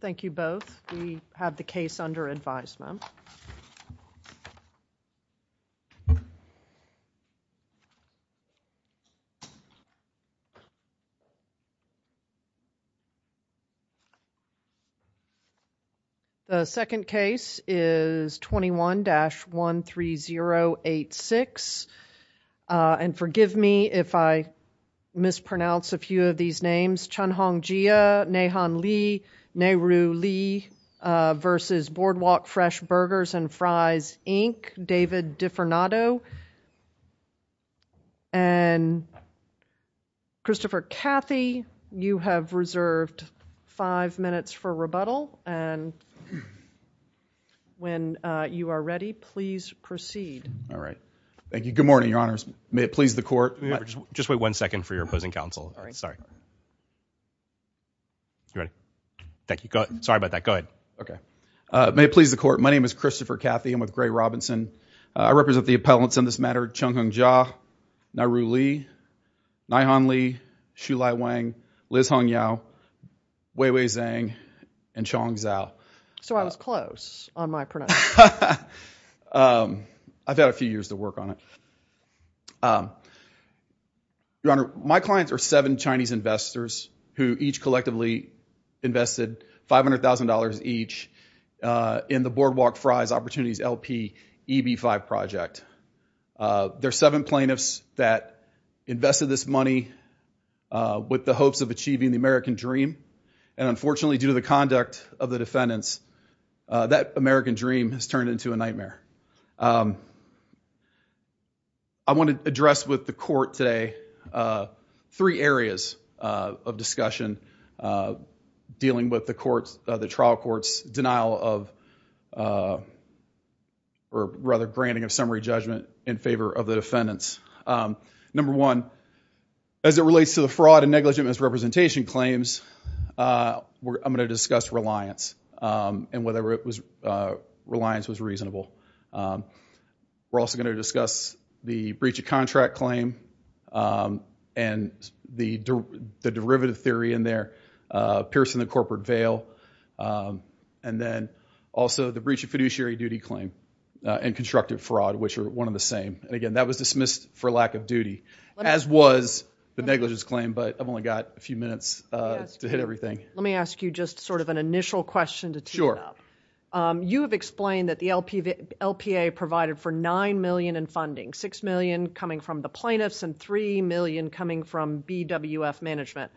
Thank you both. We have the case under advisement. The second case is 21-13086 and forgive me if I mispronounce a few of the names, David Defernato v. Boardwalk Fresh Burgers & Fries, Inc., and Christopher Cathy. You have reserved five minutes for rebuttal and when you are ready, please proceed. All right. Thank you. Good morning, Your Honors. May it please the court? Just wait one second for your opposing counsel. All right. Sorry. You ready? Thank you. Go ahead. Sorry about that. Go ahead. Okay. May it please the court? My name is Christopher Cathy. I'm with Gray Robinson. I represent the appellants in this matter, Chunghong Jia, Nairu Li, Naihan Li, Shulai Wang, Liz Hongyao, Weiwei Zhang, and Chong Zhao. So I was close on my pronunciation. I've had a few years to work on it. Your Honor, my clients are seven Chinese investors who each collectively invested $500,000 each in the Boardwalk Fries Opportunities LP EB-5 project. There are seven plaintiffs that invested this money with the hopes of achieving the American Dream and unfortunately due to the conduct of the defendants, that I want to address with the court today three areas of discussion dealing with the trial court's denial of or rather granting of summary judgment in favor of the defendants. Number one, as it relates to the fraud and negligent misrepresentation claims, I'm going to discuss reliance and whether it was reliance was reasonable. We're also going to discuss the breach of contract claim and the derivative theory in there, piercing the corporate veil, and then also the breach of fiduciary duty claim and constructive fraud, which are one of the same. And again, that was dismissed for lack of duty, as was the negligence claim, but I've only got a few minutes to hit everything. Let me ask you just sort of an initial question to tee it up. You have explained that the LPA provided for $9 million in funding, $6 million coming from the plaintiffs and $3 million coming from BWF management.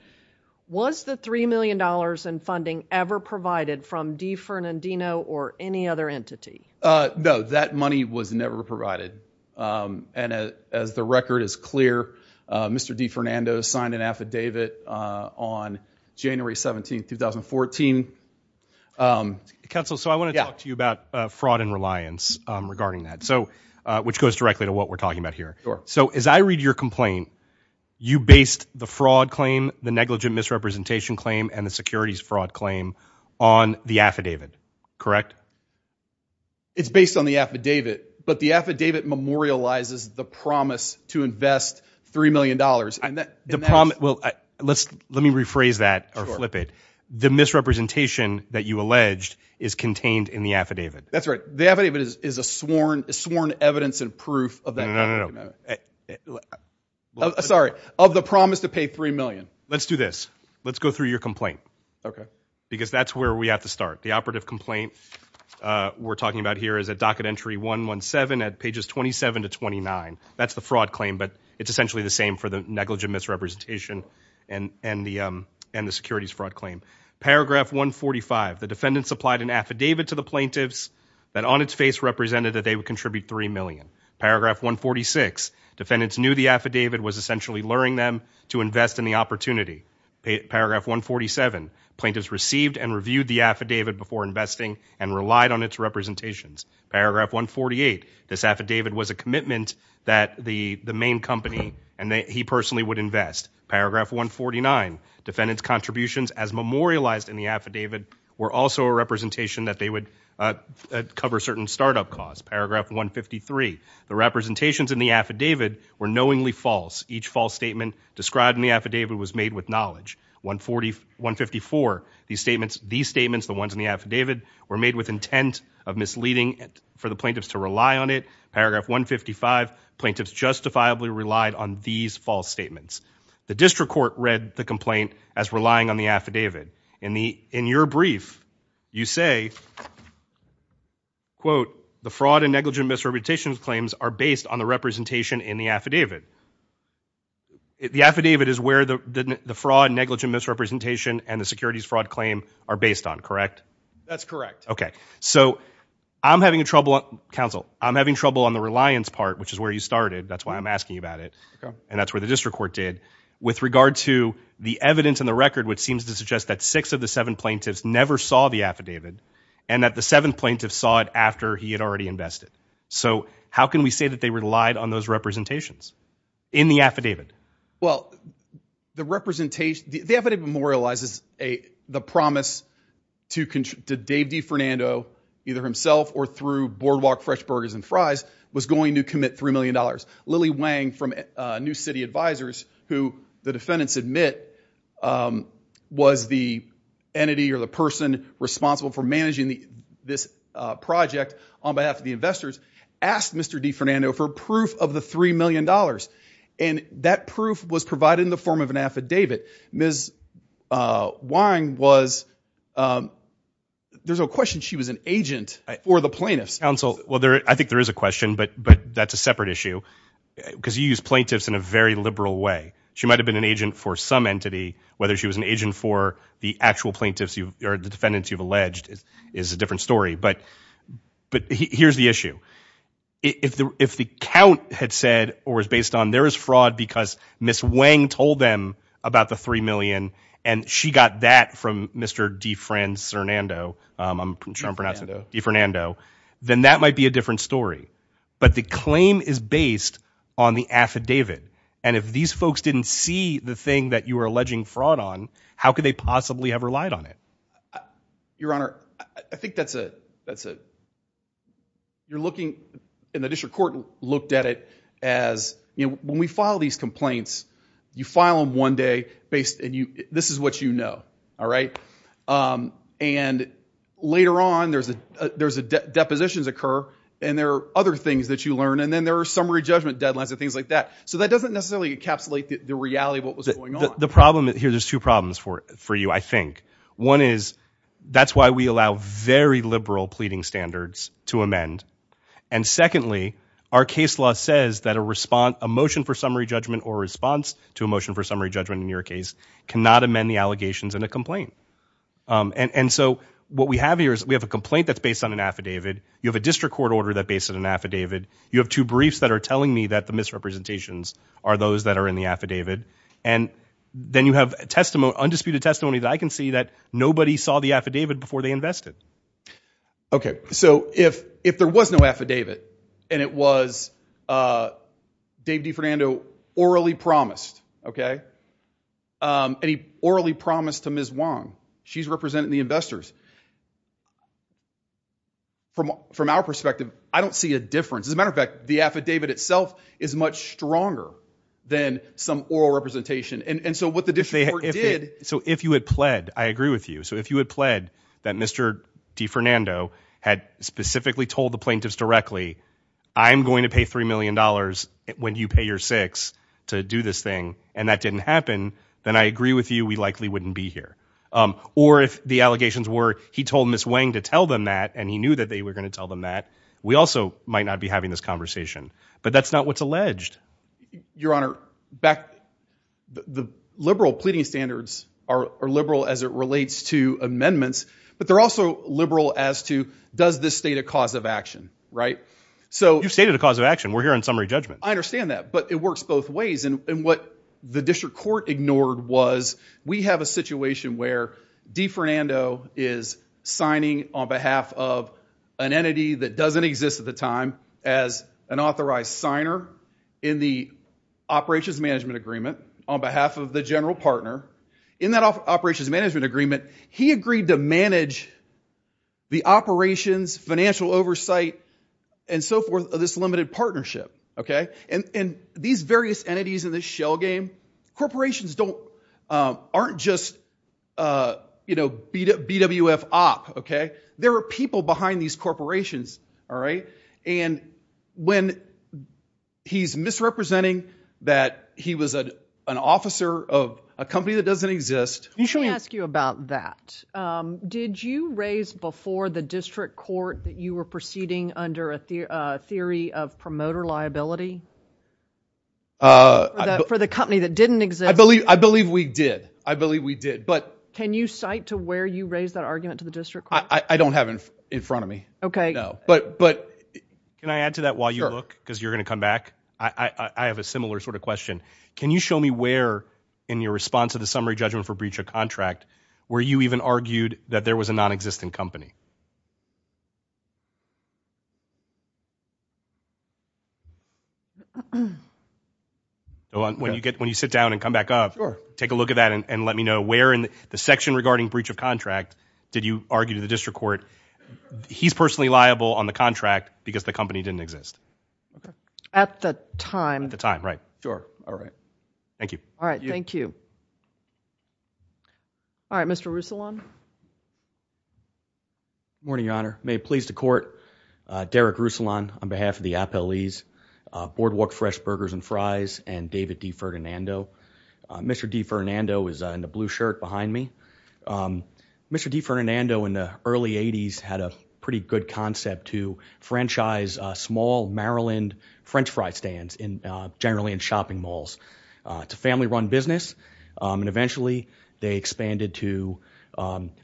Was the $3 million in funding ever provided from DiFernandino or any other entity? No, that money was never provided. And as the record is clear, Mr. DiFernandino signed an affidavit on January 17th, 2014. Counsel, so I want to talk to you about fraud and reliance regarding that, which goes directly to what we're talking about here. So as I read your complaint, you based the fraud claim, the negligent misrepresentation claim, and the securities fraud claim on the affidavit, correct? It's based on the affidavit, but the affidavit memorializes the promise to invest $3 million. The problem, well, let me rephrase that or flip it. The misrepresentation that you alleged is contained in the affidavit. That's right. The affidavit is a sworn evidence and proof of that. No, no, no, no. Sorry, of the promise to pay $3 million. Let's do this. Let's go through your complaint. Okay. Because that's where we have to start. The operative complaint we're talking about here is a docket entry 117 at pages 27 to 29. That's the fraud claim, but it's essentially the same for the negligent misrepresentation and the securities fraud claim. Paragraph 145, the defendant supplied an affidavit to the plaintiffs that on its face represented that they would contribute $3 million. Paragraph 146, defendants knew the affidavit was essentially luring them to invest in the opportunity. Paragraph 147, plaintiffs received and reviewed the affidavit before investing and relied on its representations. Paragraph 148, this affidavit was a commitment that the main company and he personally would invest. Paragraph 149, defendant's contributions as memorialized in the affidavit were also a representation that they would cover certain startup costs. Paragraph 153, the representations in the affidavit were knowingly false. Each false statement described in the affidavit was made with knowledge. 154, these statements, the ones in the affidavit were made with intent of misleading for the plaintiffs to rely on it. Paragraph 155, plaintiffs justifiably relied on these false statements. The district court read the complaint as relying on the affidavit. In your brief, you say, quote, the fraud and negligent misrepresentation claims are based on the representation in the affidavit. The affidavit is where the fraud, negligent misrepresentation, and the securities fraud claim are based on, correct? That's correct. Okay, so I'm having a trouble, counsel, I'm having trouble on the reliance part, which is where you started, that's why I'm asking you about it, and that's where the district court did. With regard to the evidence in the record, which seems to suggest that six of the seven plaintiffs never saw the affidavit, and that the seventh plaintiff saw it after he had already invested. So how can we say that they relied on those representations in the affidavit? Well, the affidavit memorializes the promise to Dave D. Fernando, either himself or through Boardwalk Fresh Burgers and Fries, was going to commit $3 million. Lily Wang from New City Advisors, who the defendants admit was the entity or the person responsible for managing this project on behalf of the investors, asked Mr. D. Fernando for proof of the $3 million. And that proof was provided in the form of an affidavit. Ms. Wang was, there's a question, she was an agent for the plaintiffs. Counsel, I think there is a question, but that's a separate issue, because you use plaintiffs in a very liberal way. She might have been an agent for some entity, whether she was an agent for the actual plaintiffs or the defendants you've alleged is a different story. But here's the issue. If the count had said or was based on there is fraud because Ms. Wang told them about the $3 million, that might be a different story. But the claim is based on the affidavit. And if these folks didn't see the thing that you are alleging fraud on, how could they possibly have relied on it? Your Honor, I think that's a, that's a, you're looking, and the district court looked at it as, you know, when we file these complaints, you file them one day based, and you, this is what you and there are other things that you learn. And then there are summary judgment deadlines and things like that. So that doesn't necessarily encapsulate the reality of what was going on. The problem here, there's two problems for you, I think. One is, that's why we allow very liberal pleading standards to amend. And secondly, our case law says that a response, a motion for summary judgment or response to a motion for summary judgment in your case cannot amend the allegations in a complaint. And so what we have here is we have a complaint that's based on an district court order that based on an affidavit. You have two briefs that are telling me that the misrepresentations are those that are in the affidavit. And then you have undisputed testimony that I can see that nobody saw the affidavit before they invested. Okay. So if, if there was no affidavit and it was Dave DeFernando orally promised, okay. And he orally promised to Ms. Wong, she's representing the investors. From our perspective, I don't see a difference. As a matter of fact, the affidavit itself is much stronger than some oral representation. And so what the district court did. So if you had pled, I agree with you. So if you had pled that Mr. DeFernando had specifically told the plaintiffs directly, I'm going to pay $3 million when you pay your six to do this thing, and that didn't happen, then I agree with you. We likely wouldn't be here. Or if the allegations were, he told Ms. Wang to tell them that, and he knew that they were going to tell them that we also might not be having this conversation, but that's not what's alleged. Your honor back, the liberal pleading standards are liberal as it relates to amendments, but they're also liberal as to does this state a cause of action, right? So you've stated a cause of action. We're here on summary judgment. I understand that, but it works both ways. And what the district court ignored was, we have a situation where DeFernando is signing on behalf of an entity that doesn't exist at the time as an authorized signer in the operations management agreement on behalf of the general partner. In that operations management agreement, he agreed to manage the operations, financial oversight, and so forth of this limited game. Corporations aren't just BWF op, okay? There are people behind these corporations, all right? And when he's misrepresenting that he was an officer of a company that doesn't exist. Let me ask you about that. Did you raise before the district court that you were proceeding under theory of promoter liability for the company that didn't exist? I believe we did. I believe we did, but- Can you cite to where you raised that argument to the district court? I don't have it in front of me. Okay. No, but- Can I add to that while you look because you're going to come back? I have a similar sort of question. Can you show me where in your response to the summary judgment for breach of contract, where you even argued that there was a non-existent company? When you get, when you sit down and come back up, take a look at that and let me know where in the section regarding breach of contract did you argue to the district court, he's personally liable on the contract because the company didn't exist? At the time. At the time, right. Sure, all right. Thank you. All right, thank you. All right, Mr. Rusulon. Good morning, Your Honor. May it please the court, Derek Rusulon on behalf of the appellees, Boardwalk Fresh Burgers and Fries and David D. Ferdinando. Mr. D. Ferdinando is in the blue shirt behind me. Mr. D. Ferdinando in the early 80s had a pretty good concept to franchise small Maryland french fry stands generally in shopping malls. It's a family-run business and eventually they expanded to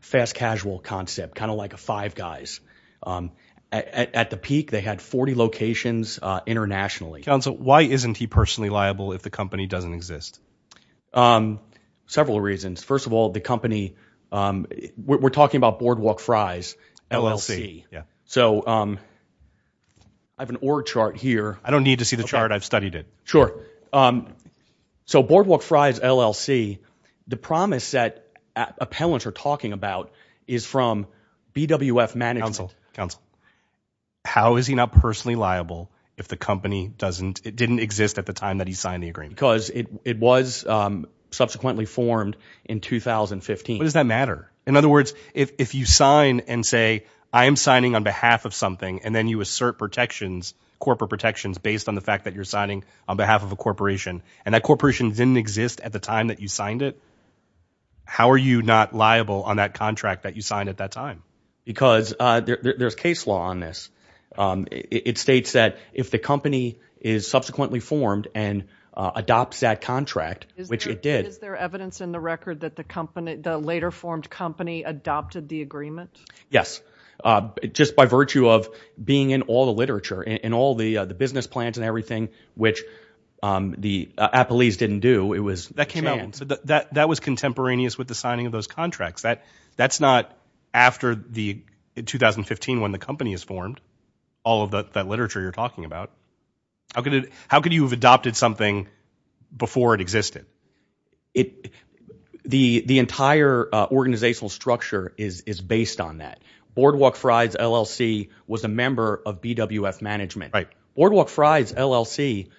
fast casual concept, kind of like a five guys. At the peak, they had 40 locations internationally. Counsel, why isn't he personally liable if the company doesn't exist? Several reasons. First of all, the company, we're talking about Boardwalk Fries LLC. Yeah. So I have an org chart here. I don't need to see the chart. I've studied it. Sure. So Boardwalk Fries LLC, the promise that appellants are talking about is from BWF management. Counsel, how is he not personally liable if the company doesn't, it didn't exist at the time that he signed the agreement? Because it was subsequently formed in 2015. What does that matter? In other words, if you sign and say, I am signing on behalf of something and then you assert protections, corporate protections based on the fact that you're a corporation and that corporation didn't exist at the time that you signed it, how are you not liable on that contract that you signed at that time? Because there's case law on this. It states that if the company is subsequently formed and adopts that contract, which it did. Is there evidence in the record that the company, the later formed company adopted the agreement? Yes. Just by virtue of being in all the the appellees didn't do, it was that came out. That was contemporaneous with the signing of those contracts that that's not after the 2015 when the company is formed. All of that, that literature you're talking about, how could it, how could you have adopted something before it existed? It, the, the entire organizational structure is, is based on that Boardwalk Fries LLC was a member of BWF management, right? Boardwalk Fries LLC.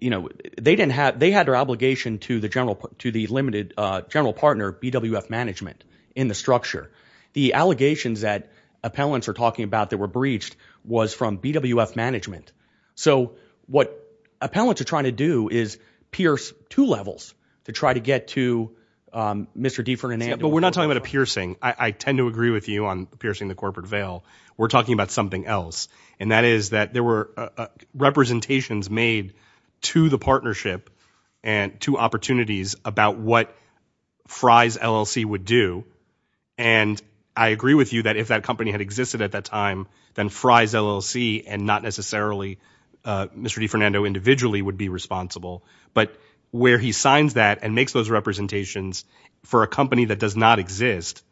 You know, they didn't have, they had their obligation to the general, to the limited general partner, BWF management in the structure. The allegations that appellants are talking about that were breached was from BWF management. So what appellants are trying to do is pierce two levels to try to get to Mr. D for an, but we're not talking about a piercing. I tend to agree with you on piercing the corporate veil. We're talking about something else. And that is that there were representations made to the partnership and to opportunities about what Fries LLC would do. And I agree with you that if that company had existed at that time, then Fries LLC and not necessarily Mr. D Fernando individually would be responsible. But where he signs that and makes those representations for a company that does not exist,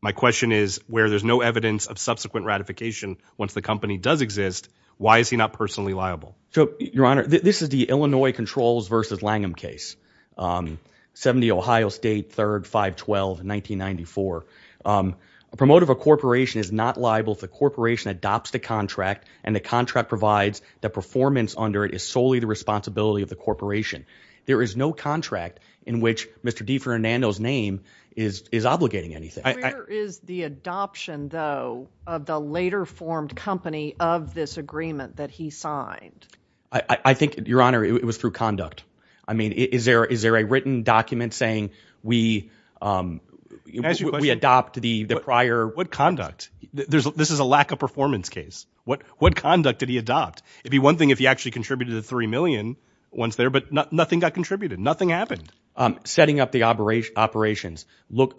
my question is where there's no evidence of subsequent ratification once the company does exist, why is he not personally liable? So your honor, this is the Illinois controls versus Langham case, um, 70 Ohio state, third, five, 12, 1994. Um, a promoter of a corporation is not liable if the corporation adopts the contract and the contract provides the performance under it is solely the responsibility of the corporation. There is no contract in which Mr. D Fernando's name is, is obligating anything. Is the adoption though of the later formed company of this agreement that he signed? I think your honor, it was through conduct. I mean, is there, is there a written document saying we, um, we adopt the prior what conduct there's, this is a lack of performance case. What, what conduct did he adopt? It'd be one thing if he actually contributed to the 3 million once there, but nothing got contributed. Nothing happened. Um, setting up the operation operations, look,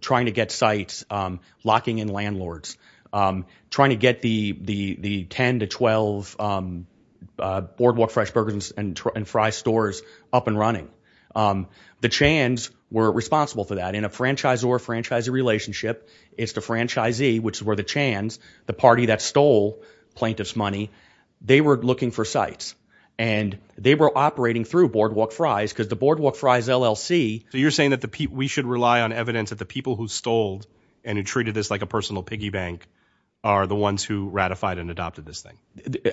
trying to get sites, um, locking in landlords, um, trying to get the, the, the 10 to 12, um, boardwalk, fresh burgers and fry stores up and running. Um, the chans were responsible for that in a franchise or a franchise relationship. It's the franchisee, which is where the chans, the party that stole plaintiff's money, they were looking for sites and they were operating through boardwalk fries. Cause the boardwalk fries LLC. So you're saying that the P we should rely on evidence that the people who stole and who treated this like a personal piggy bank are the ones who ratified and adopted this thing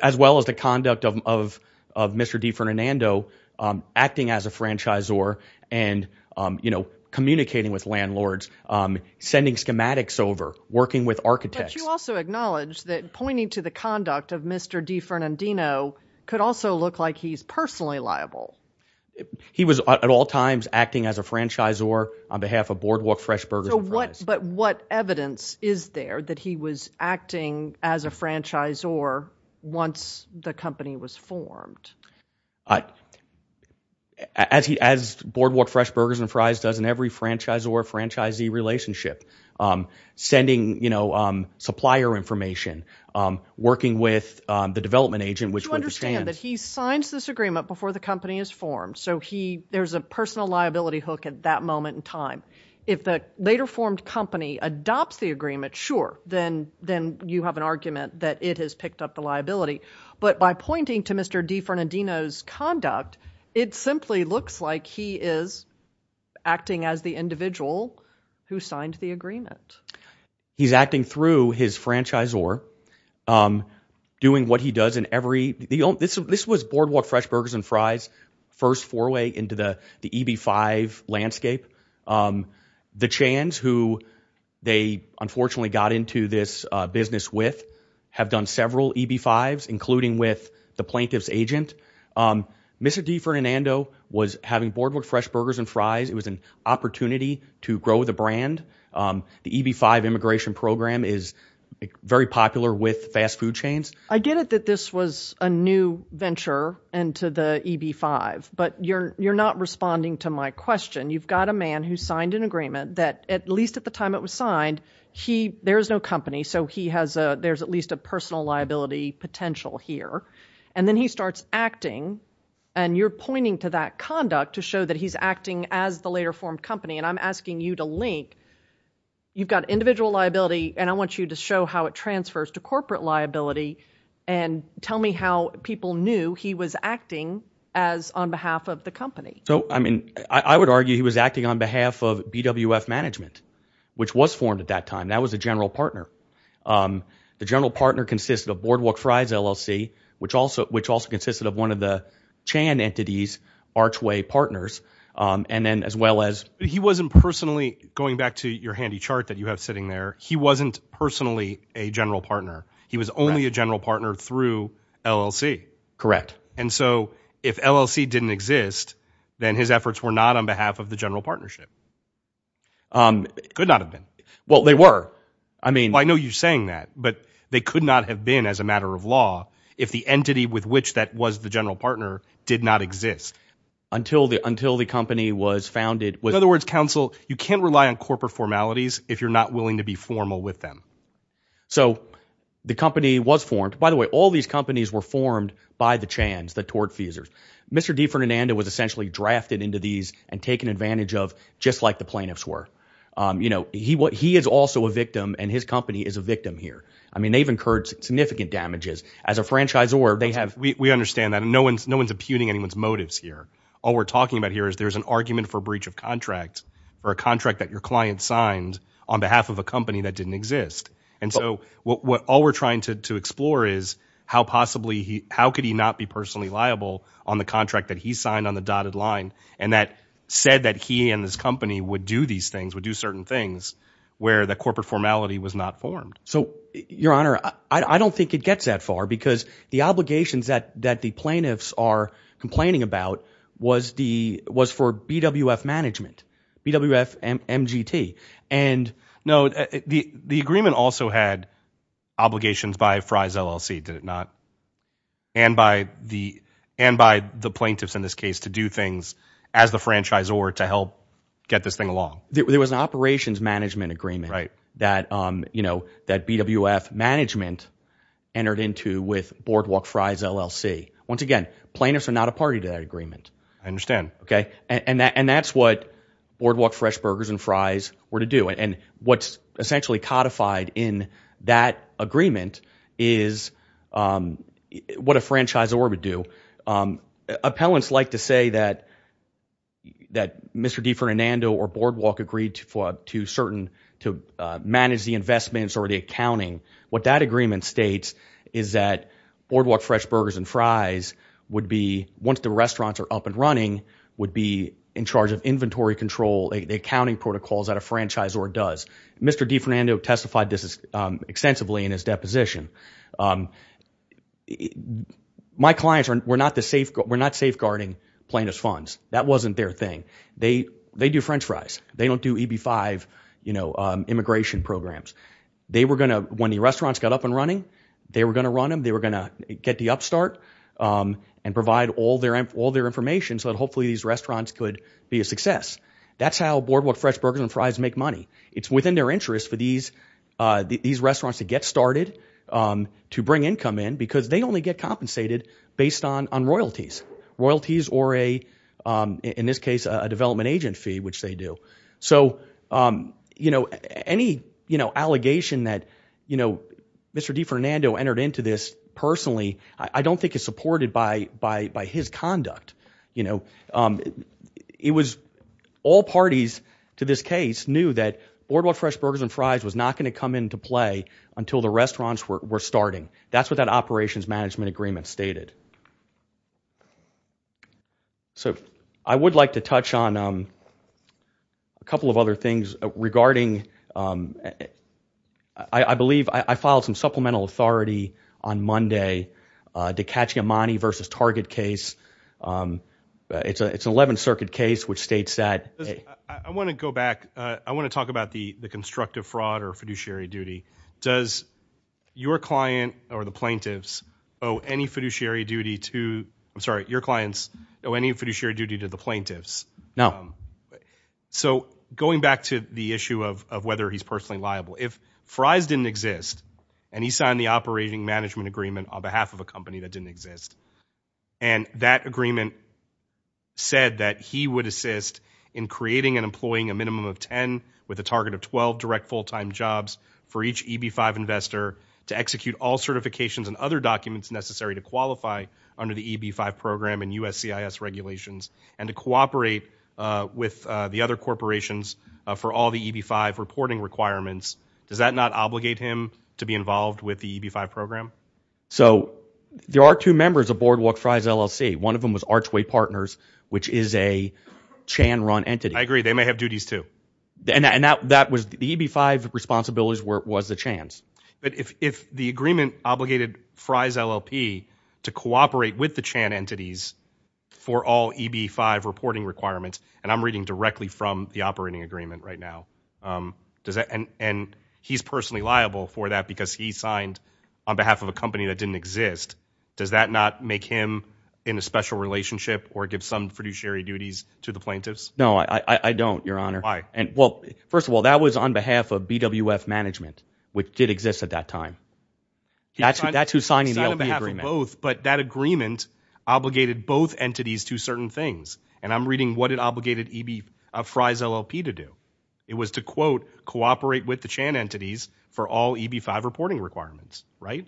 as well as the conduct of, of, of Mr. D Fernando, um, acting as a franchise or, and, um, you know, communicating with landlords, um, sending schematics over working with architects. You also acknowledge that pointing to the conduct of Mr. D Fernandino could also look like he's personally liable. He was at all times acting as a franchise or on behalf of boardwalk, fresh burgers, but what evidence is there that he was acting as a franchise or once the company was formed, uh, as he, as boardwalk, fresh burgers and fries doesn't every franchise or franchisee relationship, um, sending, you know, um, supplier information, um, working with, um, the development agent, which you understand that he moment in time, if the later formed company adopts the agreement, sure. Then, then you have an argument that it has picked up the liability, but by pointing to Mr. D Fernandino's conduct, it simply looks like he is acting as the individual who signed the agreement. He's acting through his franchise or, um, doing what he does in every, the, this was boardwalk, fresh burgers and fries. First four way into the, the EB five landscape. Um, the chance who they unfortunately got into this business with have done several EB fives, including with the plaintiff's agent. Um, Mr. D Fernando was having boardwalk, fresh burgers and fries. It was an opportunity to grow the brand. Um, the EB five immigration program is very popular with to the EB five, but you're, you're not responding to my question. You've got a man who signed an agreement that at least at the time it was signed, he, there is no company. So he has a, there's at least a personal liability potential here. And then he starts acting and you're pointing to that conduct to show that he's acting as the later formed company. And I'm asking you to link, you've got individual liability and I want you to show how it transfers to corporate liability and tell me how people knew he was acting as on behalf of the company. So, I mean, I would argue he was acting on behalf of BWF management, which was formed at that time. That was a general partner. Um, the general partner consists of boardwalk fries, LLC, which also, which also consisted of one of the Chan entities, archway partners. Um, and then as well as he wasn't personally going back to your handy chart that you have sitting there, he wasn't personally a general partner. He was only a general partner through LLC. Correct. And so if LLC didn't exist, then his efforts were not on behalf of the general partnership. Um, could not have been, well, they were, I mean, I know you're saying that, but they could not have been as a matter of law. If the entity with which that was the general partner did not exist until the, until the company was founded. In other words, counsel, you can't rely on corporate formalities if you're not willing to be formal with them. So the company was formed, by the way, all these companies were formed by the Chans, the tortfeasors. Mr. D. Ferdinando was essentially drafted into these and taken advantage of just like the plaintiffs were. Um, you know, he, what he is also a victim and his company is a victim here. I mean, they've incurred significant damages as a franchisor. They have, we understand that no one's, no one's imputing anyone's motives here. All we're talking about here is there's an argument for breach of contract or a contract that your client signed on behalf of a company that didn't exist. And so what, what all we're trying to, to explore is how possibly he, how could he not be personally liable on the contract that he signed on the dotted line? And that said that he and his company would do these things, would do certain things where the corporate formality was not formed. So your honor, I don't think it gets that far because the obligations that, that the plaintiffs are complaining about was the, was for BWF management, BWF MGT. And no, the, the agreement also had obligations by Fry's LLC, did it not? And by the, and by the plaintiffs in this case to do things as the franchisor to help get this thing along. There was an operations management agreement that, um, you know, that BWF management entered into with Boardwalk Fry's LLC. Once again, plaintiffs are not a party to that agreement. I understand. Okay. And that, and that's what Boardwalk Fresh Burgers and Fries were to do. And what's essentially codified in that agreement is, um, what a franchisor would do. Um, appellants like to say that, that Mr. DiFernando or Boardwalk agreed to, to certain, to, uh, manage the investments or the accounting. What that agreement states is that Boardwalk Fresh Burgers and Fries would be, once the restaurants are up and running, would be in charge of inventory control, the accounting protocols that a franchisor does. Mr. DiFernando testified this is, um, extensively in his deposition. Um, my clients are, we're not the safeguard, we're not safeguarding plaintiff's funds. That wasn't their thing. They, they do French fries. They don't do EB5, you know, um, immigration programs. They were going to, when the restaurants got up and running, they were going to run them. They were going to get the upstart, um, and provide all their, all their information so that hopefully these restaurants could be a success. That's how Boardwalk Fresh Burgers and Fries make money. It's within their interest for these, uh, these restaurants to get started, um, to bring income in because they only get compensated based on, on royalties, royalties or a, um, in this case, a development agent fee, which they do. So, um, you know, any, you know, allegation that, you know, Mr. DiFernando entered into this personally, I don't think it's supported by, by, by his conduct. You know, um, it was all parties to this case knew that Boardwalk Fresh Burgers and Fries was not going to come into play until the restaurants were starting. That's what that operations management agreement stated. So I would like to touch on, um, a couple of other things regarding, um, I, I believe I, I filed some supplemental authority on Monday, uh, to catch Imani versus Target case. Um, it's a, it's an 11th circuit case, which states that. I want to go back. Uh, I want to talk about the, the constructive fraud or fiduciary duty. Does your client or the plaintiffs owe any fiduciary duty to, I'm sorry, your clients owe any fiduciary duty to the plaintiffs? No. So going back to the issue of, of whether he's personally liable, if Fries didn't exist and he signed the operating management agreement on behalf of a company that didn't exist. And that agreement said that he would assist in creating and employing a minimum of 10 with a target of 12 direct full-time jobs for each EB-5 investor to execute all certifications and other documents necessary to qualify under the EB-5 program and USCIS regulations and to cooperate, uh, with, uh, the other corporations, uh, for all the EB-5 reporting requirements. Does that not obligate him to be involved with the EB-5 program? So there are two members of Boardwalk Fries LLC. One of them was Archway Partners, which is a Chan run entity. I agree. They may have duties too. And that, that was the EB-5 responsibilities were, was the Chans. But if, if the agreement obligated Fries LLP to cooperate with the Chan entities for all EB-5 reporting requirements, and I'm reading directly from the operating agreement right now, um, does that, and, and he's personally liable for that because he signed on behalf of a company that didn't exist. Does that not make him in a special relationship or give some fiduciary duties to the plaintiffs? No, I, I, I don't, your honor. Why? And well, first of all, that was on behalf of BWF management, which did exist at that time. That's who, that's who's signing the LP agreement. But that agreement obligated both entities to certain things. And I'm reading what it obligated EB, uh, Fries LLP to do. It was to quote, cooperate with the Chan entities for all EB-5 reporting requirements, right?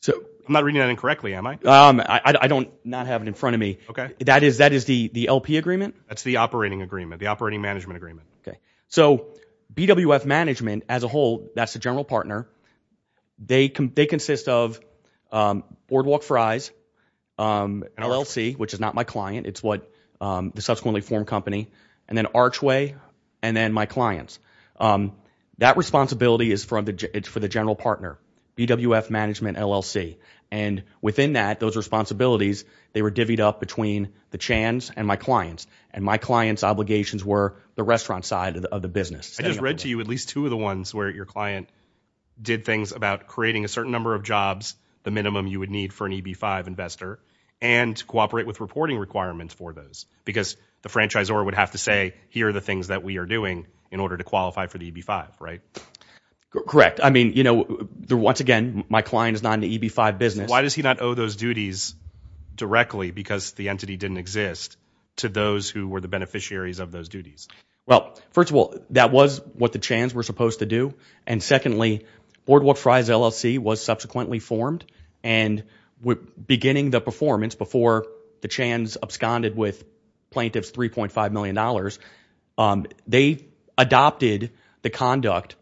So I'm not reading that incorrectly, am I? Um, I, I don't not have it in front of me. Okay. That is, that is the, the LP agreement. That's the operating agreement, the operating management agreement. Okay. So BWF management as a whole, that's the general partner. They can, they consist of, um, Boardwalk Fries, um, LLC, which is not my client. It's what, um, the subsequently formed company and then Archway and then my clients. Um, that responsibility is from the, it's for the general partner, BWF management LLC. And within that, those responsibilities, they were divvied up between the Chans and my clients. And my client's obligations were the restaurant side of the business. I just read to you at least two of the ones where your client did things about creating a certain number of jobs, the minimum you would need for an EB-5 investor and cooperate with reporting requirements for those because the franchisor would have to say, here are the things that we are doing in order to qualify for the EB-5, right? Correct. I mean, you know, once again, my client is not in the EB-5 business. Why does he not owe those duties directly because the entity didn't exist to those who were the beneficiaries of those duties? Well, first of all, that was what the Chans were supposed to do. And secondly, Boardwalk Fries, LLC was subsequently formed and beginning the performance before the Chans absconded with plaintiffs $3.5 million. Um, they adopted the conduct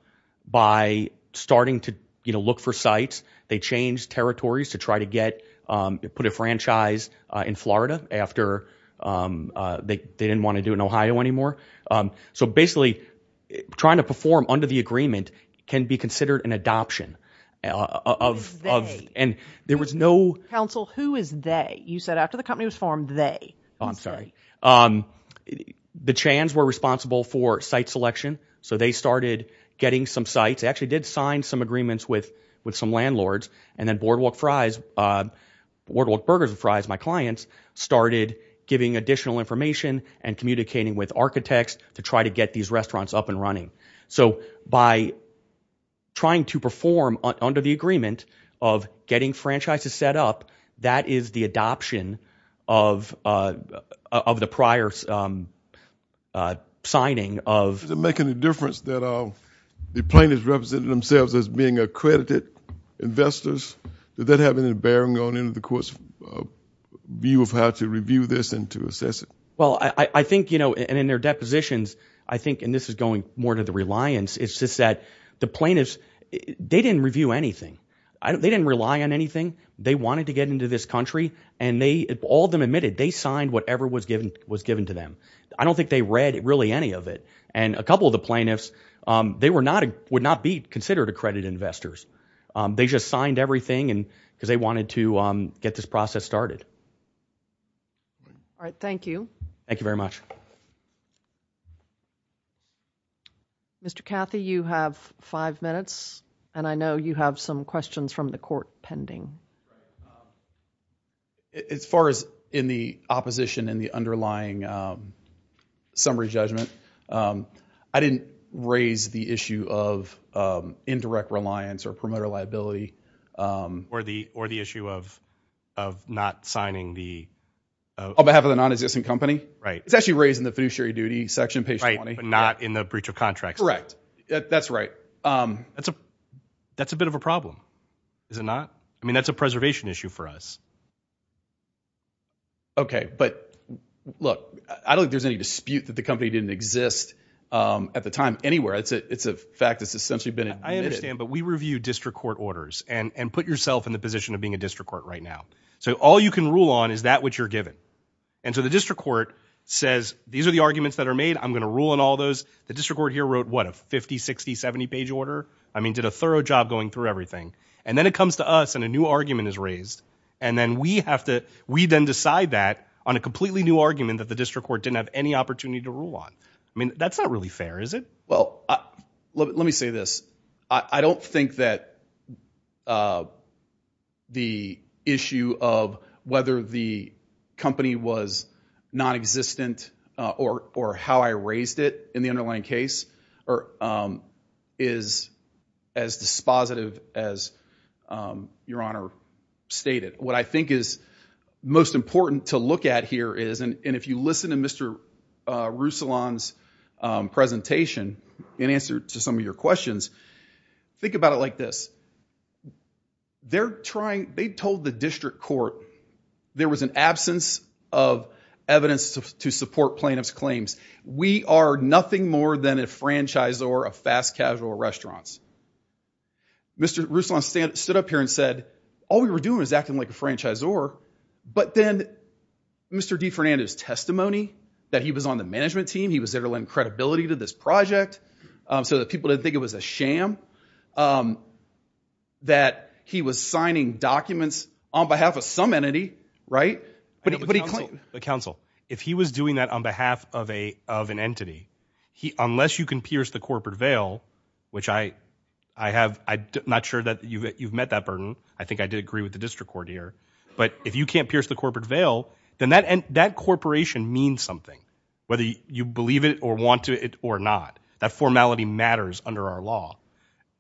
by starting to look for sites. They changed territories to try to get, um, put a franchise, uh, in Florida after, um, uh, they, they didn't want to do it in Ohio anymore. Um, so basically trying to perform under the agreement can be considered an adoption of, of, and there was no... Counsel, who is they? You said after the company was formed, they. Oh, I'm sorry. Um, the Chans were responsible for site selection. So they started getting some sites, actually did sign some agreements with, with some landlords and then Boardwalk Fries, uh, Boardwalk Burgers and Fries, my clients started giving additional information and communicating with architects to try to get these restaurants up and running. So by trying to perform under the agreement of getting franchises set up, that is the adoption of, uh, of the prior, um, uh, signing of... Plaintiffs represented themselves as being accredited investors. Did that have any bearing on any of the court's view of how to review this and to assess it? Well, I, I think, you know, and in their depositions, I think, and this is going more to the reliance, it's just that the plaintiffs, they didn't review anything. I don't, they didn't rely on anything. They wanted to get into this country and they, all of them admitted, they signed whatever was given, was given to them. I don't think they read really any of it. And a would not be considered accredited investors. Um, they just signed everything and because they wanted to, um, get this process started. All right. Thank you. Thank you very much. Mr. Cathy, you have five minutes and I know you have some questions from the court pending. As far as in the opposition and the underlying, um, summary judgment, um, I didn't raise the issue of, um, indirect reliance or promoter liability. Um, or the, or the issue of, of not signing the. On behalf of the non-existent company. Right. It's actually raised in the fiduciary duty section. Right. But not in the breach of contract. Correct. That's right. Um, that's a, that's a bit of a problem, is it not? I mean, that's a preservation issue for us. Okay. But look, I don't think there's any dispute that the company didn't exist, um, at the time anywhere. It's a, it's a fact that's essentially been admitted. I understand, but we review district court orders and, and put yourself in the position of being a district court right now. So all you can rule on is that what you're given. And so the district court says, these are the arguments that are made. I'm going to rule on all those. The district court here wrote what a 50, 60, 70 page order. I mean, did a thorough job going through everything. And then it comes to us and a new argument is raised. And then we have to, we then decide that on a completely new argument that the district court didn't have any opportunity to rule on. I mean, that's not really fair, is it? Well, let me say this. I don't think that, uh, the issue of whether the company was non-existent, uh, or, or how I raised it in the underlying case or, um, is as dispositive as, um, your honor stated. What I think is most important to look at here is, and if you listen to Mr. Roussillon's, um, presentation in answer to some of your questions, think about it like this. They're trying, they told the district court there was an absence of evidence to support plaintiff's claims. We are nothing more than a franchise or a fast casual restaurants. Mr. Roussillon stood up here and said, all we were doing was acting like a franchisor, but then Mr. DeFernando's testimony that he was on the management team, he was there to lend credibility to this project, um, so that people didn't think it was a sham, um, that he was signing documents on behalf of some entity, right? But he, but he, but counsel, if he was doing that on behalf of a, of an entity, he, unless you can pierce the corporate veil, which I, I have, I'm not sure that you've, you've met that burden. I think I did agree with the district court here, but if you can't pierce the corporate veil, then that, and that corporation means something, whether you believe it or want to it or not, that formality matters under our law.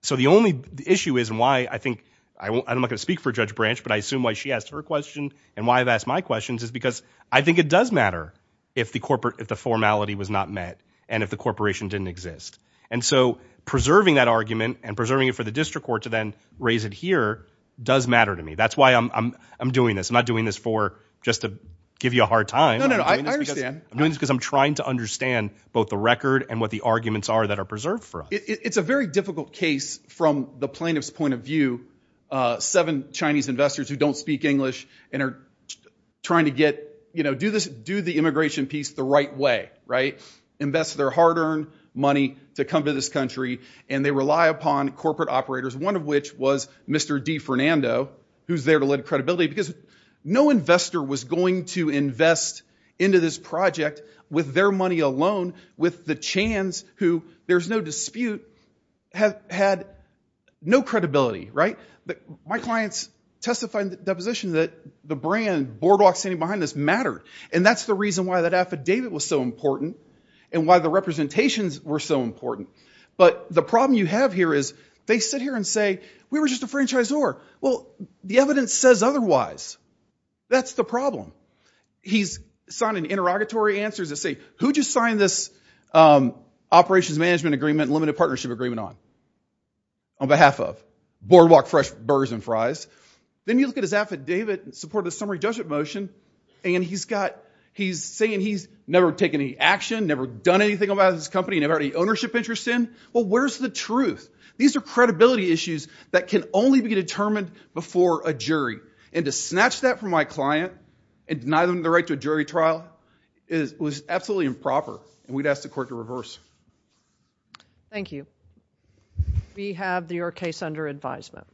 So the only issue is why I think I won't, I'm not going to speak for judge branch, but I assume why she asked her question and why I've asked my questions is because I think it does matter if the corporate, if the formality was not met and if the corporation didn't exist. And so preserving that argument and preserving it for the district court to then raise it here does matter to me. That's why I'm, I'm, I'm doing this. I'm not doing this for just to give you a hard time. I'm doing this because I'm trying to understand both the record and what the arguments are that are preserved for us. It's a very difficult case from the plaintiff's point of view, uh, seven Chinese investors who don't speak English and are trying to get, you know, do this, do the and they rely upon corporate operators. One of which was Mr. D Fernando, who's there to lend credibility because no investor was going to invest into this project with their money alone, with the chance who there's no dispute have had no credibility, right? My clients testified in the deposition that the brand Boardwalk standing behind this matter. And that's the reason why affidavit was so important and why the representations were so important. But the problem you have here is they sit here and say, we were just a franchisor. Well, the evidence says otherwise. That's the problem. He's signed an interrogatory answers that say, who just signed this, um, operations management agreement, limited partnership agreement on, on behalf of Boardwalk fresh burgers and fries. Then you look at his affidavit and support the summary judgment motion. And he's got, he's saying he's never taken any action, never done anything about his company, never had any ownership interest in. Well, where's the truth? These are credibility issues that can only be determined before a jury. And to snatch that from my client and deny them the right to a jury trial is absolutely improper. And we'd ask the court to reverse. Thank you. We have your case under advisement.